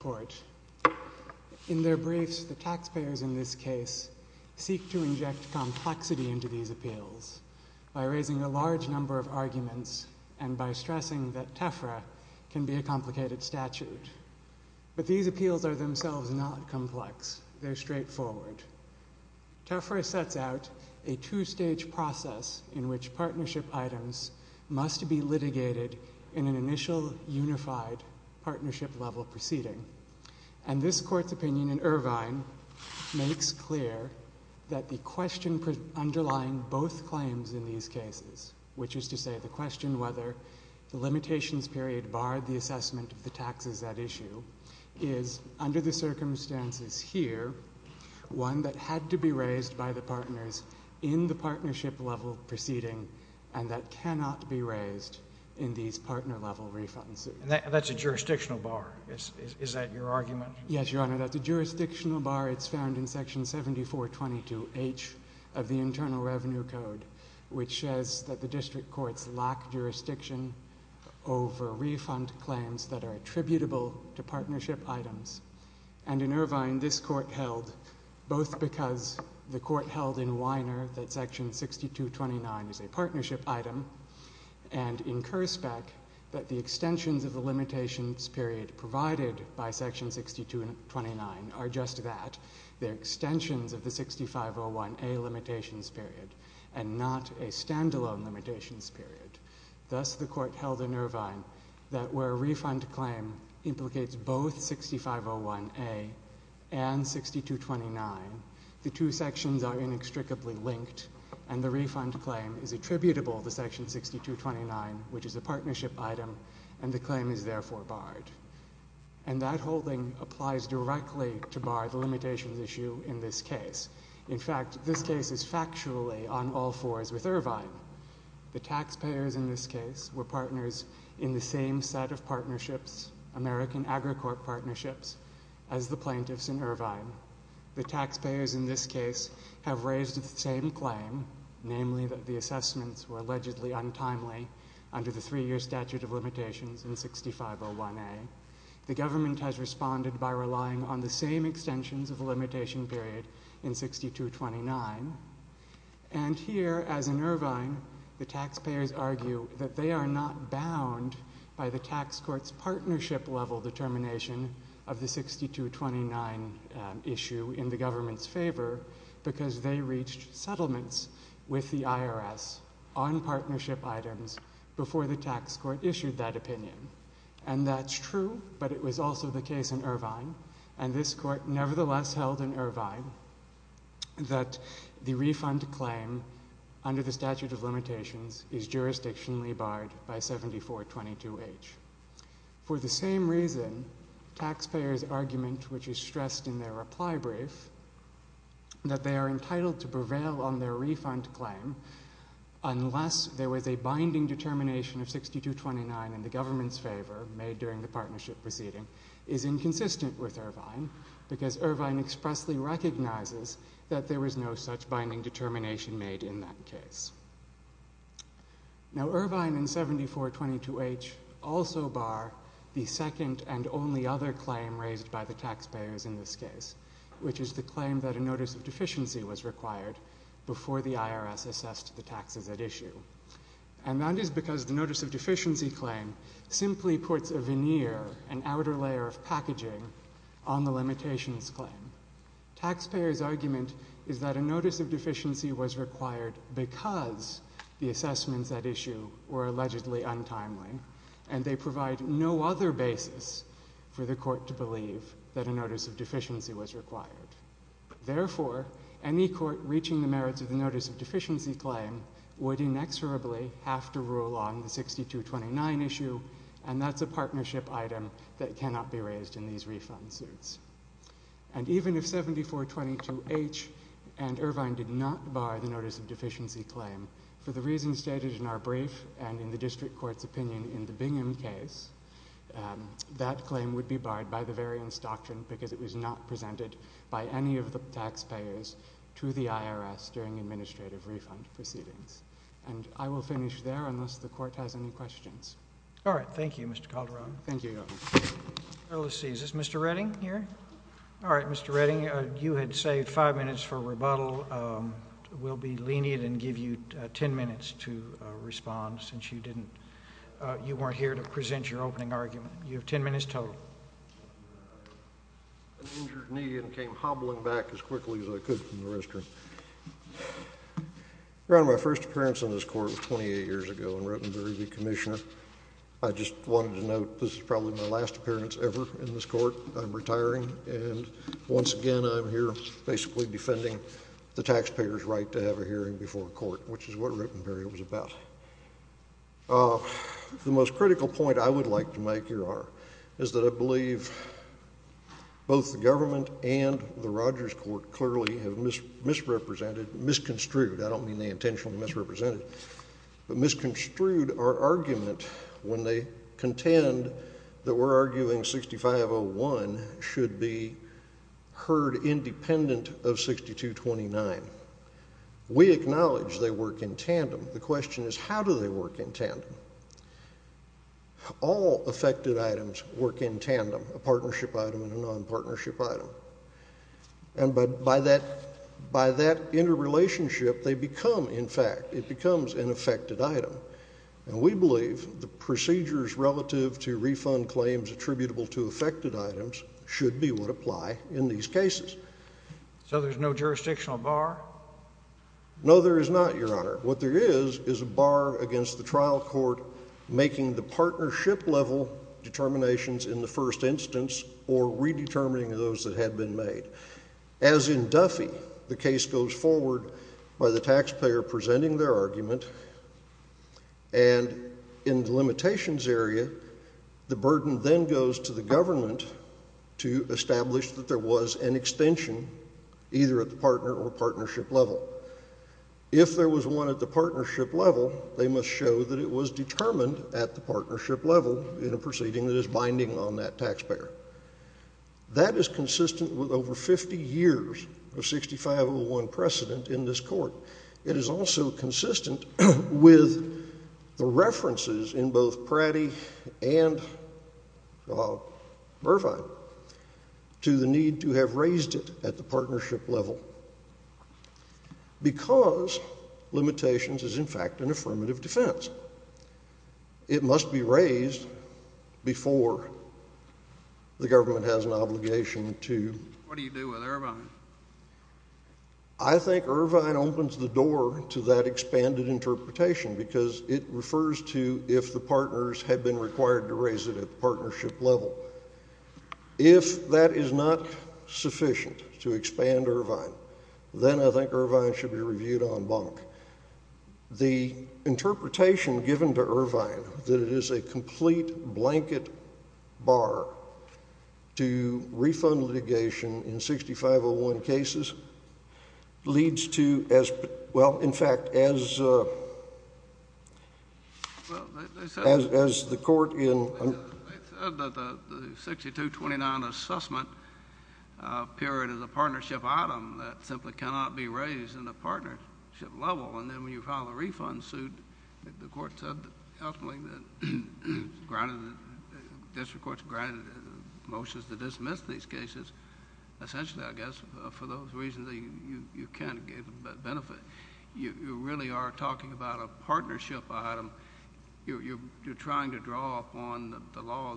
Court. In their briefs, the taxpayers in this case seek to inject complexity into these appeals by raising a large number of arguments and by stressing that TEFRA can be a complicated statute. But these appeals are themselves not complex. They're straightforward. TEFRA sets out a two-stage process in which partnership items must be litigated in an initial unified partnership-level proceeding. And this Court's opinion in Irvine makes clear that the question underlying both claims in these cases, which is to say the question whether the limitations period barred the assessment of the taxes at issue, is, under the circumstances here, one that had to be raised by the partners in the partnership-level proceeding and that jurisdictional bar. Is that your argument? Yes, Your Honor, that the jurisdictional bar, it's found in Section 7422H of the Internal Revenue Code, which says that the district courts lack jurisdiction over refund claims that are attributable to partnership items. And in Irvine, this Court held, both because the Court held in Weiner that Section 6229 is a partnership item and in Kurzbeck that the extensions of the limitations period provided by Section 6229 are just that, they're extensions of the 6501A limitations period and not a standalone limitations period. Thus, the Court held in Irvine that where a refund claim implicates both 6501A and 6229, the two sections are inextricably linked and the refund claim is attributable to Section 6229, which is a partnership item, and the claim is therefore barred. And that holding applies directly to bar the limitations issue in this case. In fact, this case is factually on all fours with Irvine. The taxpayers in this case were partners in the same set of partnerships, American Agricorp partnerships, as the plaintiffs in Irvine. The taxpayers in this case have raised the same claim, namely that the assessments were allegedly untimely under the three-year statute of limitations in 6501A. The government has responded by relying on the same extensions of the limitation period in 6229. And here, as in Irvine, the tax court's partnership level determination of the 6229 issue in the government's favor because they reached settlements with the IRS on partnership items before the tax court issued that opinion. And that's true, but it was also the case in Irvine. And this Court nevertheless held in Irvine that the refund claim under the statute of limitations is jurisdictionally barred by 7422H. For the same reason, taxpayers' argument, which is stressed in their reply brief, that they are entitled to prevail on their refund claim unless there was a binding determination of 6229 in the government's favor made during the partnership proceeding, is inconsistent with Irvine because Irvine expressly recognizes that there was no such binding determination made in that case. Now, Irvine and 7422H also bar the second and only other claim raised by the taxpayers in this case, which is the claim that a notice of deficiency was required before the IRS assessed the taxes at issue. And that is because the notice of deficiency claim simply puts a veneer, an outer layer of packaging on the limitations claim. Taxpayers' argument is that a notice of deficiency was required because the assessments at issue were allegedly untimely and they provide no other basis for the Court to believe that a notice of deficiency was required. Therefore, any Court reaching the merits of the notice of deficiency claim would inexorably have to rule on the 6229 issue, and that's a partnership item that cannot be raised in these refund suits. And even if 7422H and Irvine did not bar the notice of deficiency claim, for the reasons stated in our brief and in the District Court's opinion in the Bingham case, that claim would be barred by the very instruction because it was not presented by any of the the Court has any questions. All right. Thank you, Mr. Calderon. Thank you, Your Honor. Let's see. Is this Mr. Redding here? All right. Mr. Redding, you had saved five minutes for rebuttal. We'll be lenient and give you ten minutes to respond since you didn't, you weren't here to present your opening argument. You have ten minutes total. I injured a knee and came hobbling back as quickly as I could from the restroom. Your Honor, my first appearance on this Court was 28 years ago in Ruttenberry v. Commissioner. I just wanted to note this is probably my last appearance ever in this Court. I'm retiring, and once again, I'm here basically defending the taxpayer's right to have a hearing before the Court, which is what Ruttenberry was about. The most critical point I would like to make, is that I believe both the government and the Rogers Court clearly have misrepresented, misconstrued, I don't mean they intentionally misrepresented, but misconstrued our argument when they contend that we're arguing 6501 should be heard independent of 6229. We acknowledge they work in tandem. The question is how do they work in tandem? All affected items work in tandem, a partnership item and a non-partnership item. And by that interrelationship, they become, in fact, it becomes an affected item. And we believe the procedures relative to refund claims attributable to affected items should be what apply in these cases. So there's no jurisdictional bar? No, there is not, Your Honor. What there is, is a bar against the trial court making the partnership level determinations in the first instance or redetermining those that had been made. As in Duffy, the case goes forward by the taxpayer presenting their argument and in the limitations area, the burden then goes to the government to establish that there was an extension either at the partner or partnership level. If there was one at the partnership level, they must show that it was determined at the partnership level in a proceeding that is binding on that taxpayer. That is consistent with over 50 years of 6501 precedent in this court. It is also consistent with the references in both Pratty and Irvine to the need to have raised it at the partnership level because limitations is, in fact, an affirmative defense. It must be raised before the government has an obligation to— What do you do with Irvine? I think Irvine opens the door to that expanded interpretation because it refers to if the partnership level, if that is not sufficient to expand Irvine, then I think Irvine should be reviewed en banc. The interpretation given to Irvine that it is a complete blanket bar to refund litigation in 6501 cases leads to, well, in fact, as the court in— The 6229 assessment period is a partnership item that simply cannot be raised in a partnership level, and then when you file a refund suit, the court said ultimately that district courts granted motions to dismiss these cases. Essentially, I guess, for those reasons, you can't get the benefit. You really are talking about a partnership item. You're trying to draw upon the law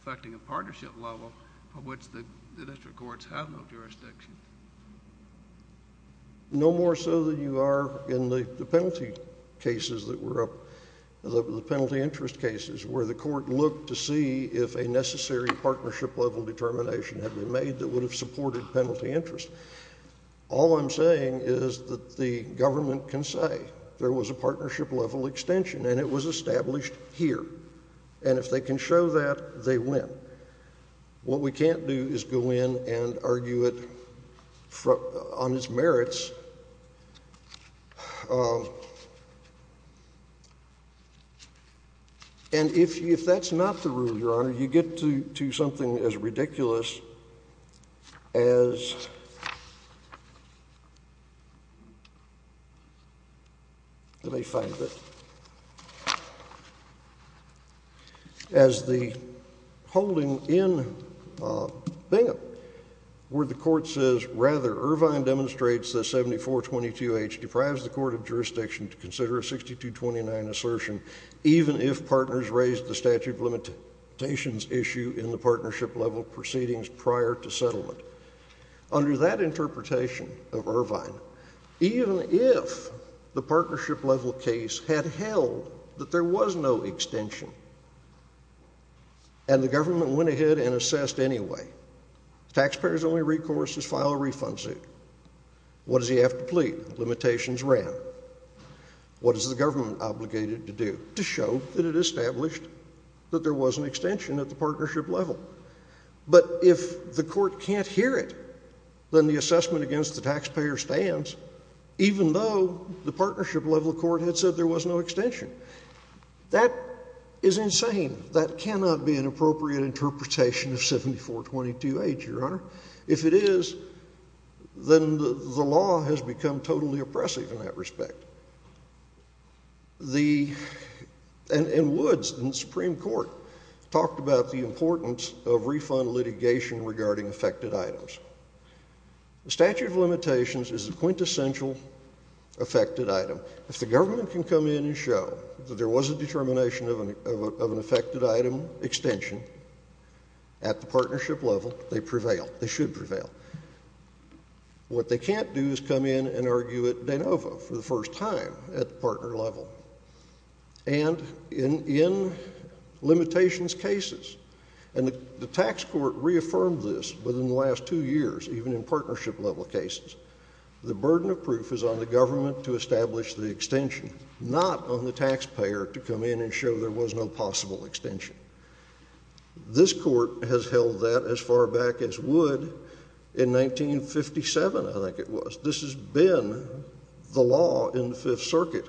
affecting a partnership level for which the district courts have no jurisdiction. No more so than you are in the penalty interest cases where the court looked to see if a necessary partnership level determination had been made that would have supported penalty interest. All I'm saying is that the government can say there was a partnership level extension and it was established here, and if they can show that, they win. What we can't do is go in and argue it on its merits, and if that's not the rule, Your Honor, you get to something as ridiculous as— As the holding in Bingham, where the court says, rather, Irvine demonstrates that 7422H deprives the court of jurisdiction to consider a 6229 assertion, even if partners raise the statute of limitations issue in the partnership level proceedings prior to settlement. Under that interpretation of Irvine, even if the partnership level case had held that there was no extension and the government went ahead and assessed anyway, taxpayers only recourse is file a refund suit. What does he have to plead? Limitations ran. What is the government obligated to do? To show that it established that there was an extension at the partnership level. But if the court can't hear it, then the assessment against the taxpayer stands, even though the partnership level court had said there was no extension. That is insane. That cannot be an appropriate interpretation of 7422H, Your Honor. If it is, then the law has become totally oppressive in that respect. The—and Woods in the Supreme Court talked about the importance of refund litigation regarding affected items. The statute of limitations is a quintessential affected item. If the government can come in and show that there was a determination of an affected item extension at the partnership level, they prevail. They should prevail. What they can't do is come in and argue it de novo for the first time at the partner level and in limitations cases. And the tax court reaffirmed this within the last two years, even in partnership level cases. The burden of proof is on the government to establish the extension, not on the taxpayer to come in and show there was no possible extension. This court has held that as far back as Wood in 1957, I think it was. This has been the law in the Fifth Circuit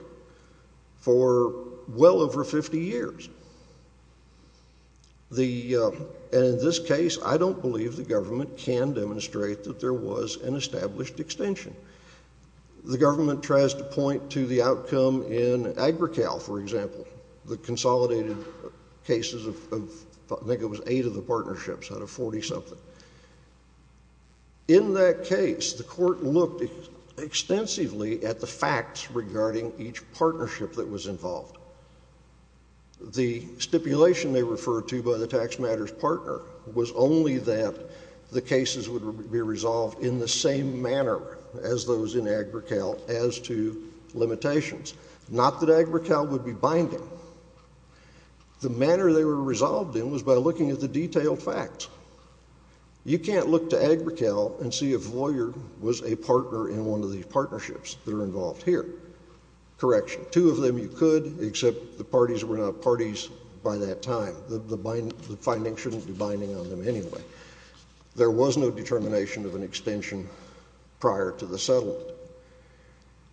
for well over 50 years. The—and in this case, I don't believe the government can demonstrate that there was an established extension. The government tries to point to the outcome in Agricale, for example, the consolidated cases of—I think it was eight of the partnerships out of 40-something. In that case, the court looked extensively at the facts regarding each partnership that was involved. The stipulation they referred to by the tax matters partner was only that the cases would be resolved in the same manner as those in Agricale as to limitations. Not that Agricale would be binding. The manner they were resolved in was by looking at the detailed facts. You can't look to Agricale and see if Voyer was a partner in one of the partnerships that are involved here. Correction. Two of them you could, except the parties were not parties by that time. The finding shouldn't be binding on them anyway. There was no determination of an extension prior to the settlement.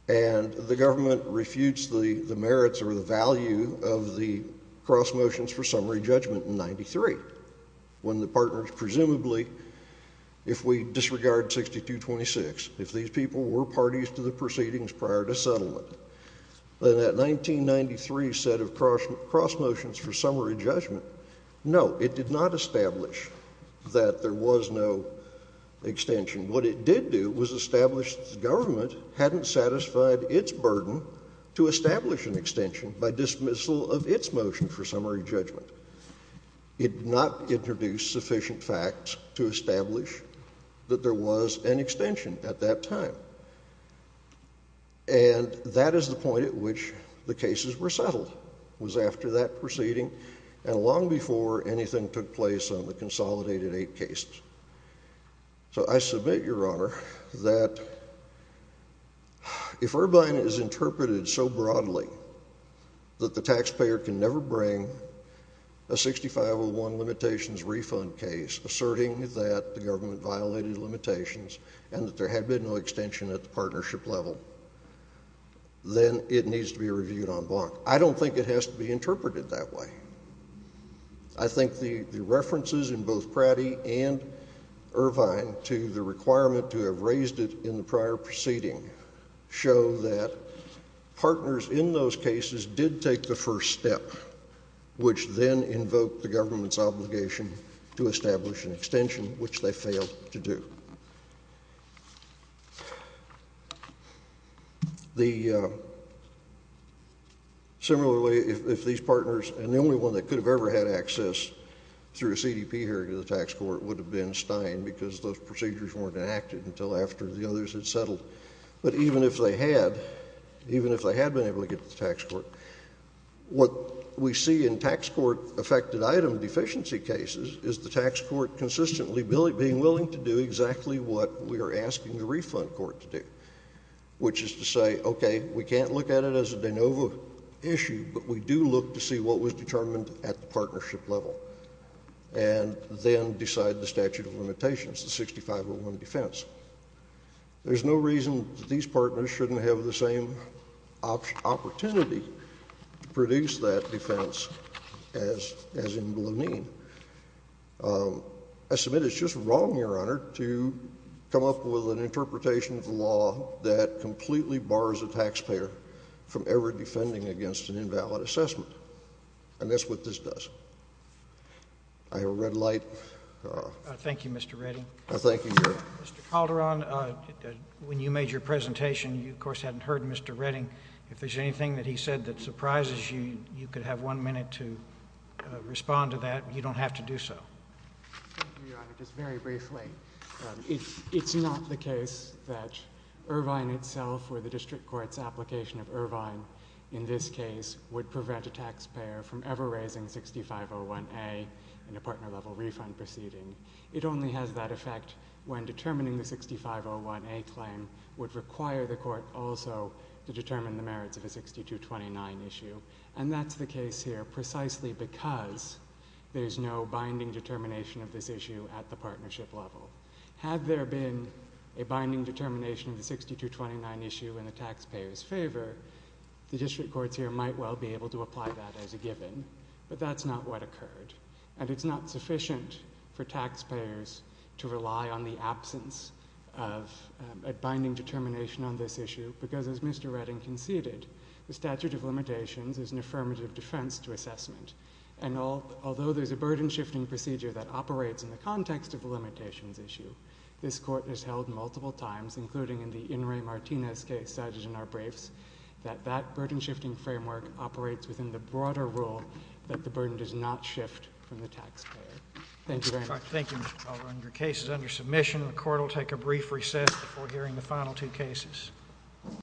And the government refutes the merits or the value of the cross motions for summary judgment in 93, when the partners presumably, if we disregard 6226, if these people were parties to the proceedings prior to settlement. But in that 1993 set of cross motions for summary judgment, no, it did not establish that there was no extension. What it did do was establish the government hadn't satisfied its burden to establish an extension by dismissal of its motion for summary judgment. It did not introduce sufficient facts to establish that there was an extension at that time. And that is the point at which the cases were settled, was after that proceeding and long before anything took place on the consolidated eight cases. So I submit, Your Honor, that if Irvine is interpreted so broadly that the taxpayer can never bring a 6501 limitations refund case, asserting that the government violated limitations and that there had been no extension at the partnership level, then it needs to be reviewed en bloc. I don't think it has to be interpreted that way. I think the references in both Pratt v. Irvine to the requirement to have raised it in the prior proceeding show that partners in those cases did take the first step, which then invoked the government's obligation to establish an extension, which they failed to do. Similarly, if these partners, and the only one that could have ever had access through a CDP here to the tax court would have been Stein because those procedures weren't enacted until after the others had settled. But even if they had, even if they had been able to get to the tax court, what we see in tax court affected item deficiency cases is the tax court consistently being willing to do exactly what we are asking the refund court to do, which is to say, okay, we can't look at it as a de novo issue, but we do look to see what was determined at the partnership level, and then decide the statute of limitations, the 6501 defense. There's no reason that these partners shouldn't have the same opportunity to produce that defense as in Blonine. I submit it's just wrong, Your Honor, to come up with an interpretation of the law that completely bars a taxpayer from ever defending against an invalid assessment. And that's what this does. I have a red light. Thank you, Mr. Redding. Thank you, Your Honor. Mr. Calderon, when you made your presentation, you, of course, hadn't heard Mr. Redding. If there's anything that he said that surprises you, you could have one minute to respond to that. You don't have to do so. Thank you, Your Honor. Just very briefly, it's not the case that Irvine itself or the district court's application of Irvine in this case would prevent a taxpayer from ever raising 6501A in a partner-level refund proceeding. It only has that effect when determining the 6501A claim would require the court also to determine the merits of a 6229 issue. And that's the case here precisely because there's no binding determination of this issue at the partnership level. Had there been a binding determination of the 6229 issue in the taxpayer's favor, the district courts here might well be able to apply that as a given, but that's not what occurred. And it's not sufficient for taxpayers to rely on the absence of a binding determination on this issue because, as Mr. Redding conceded, the statute of limitations is an affirmative defense to assessment. And although there's a burden-shifting procedure that operates in the context of a limitations issue, this Court has held multiple times, including in the In re Martinez case cited in our briefs, that that burden-shifting framework operates within the broader rule that the burden does not shift from the taxpayer. Thank you very much. Thank you, Mr. Baldwin. Your case is under submission. The Court will take a brief recess before hearing the final two cases.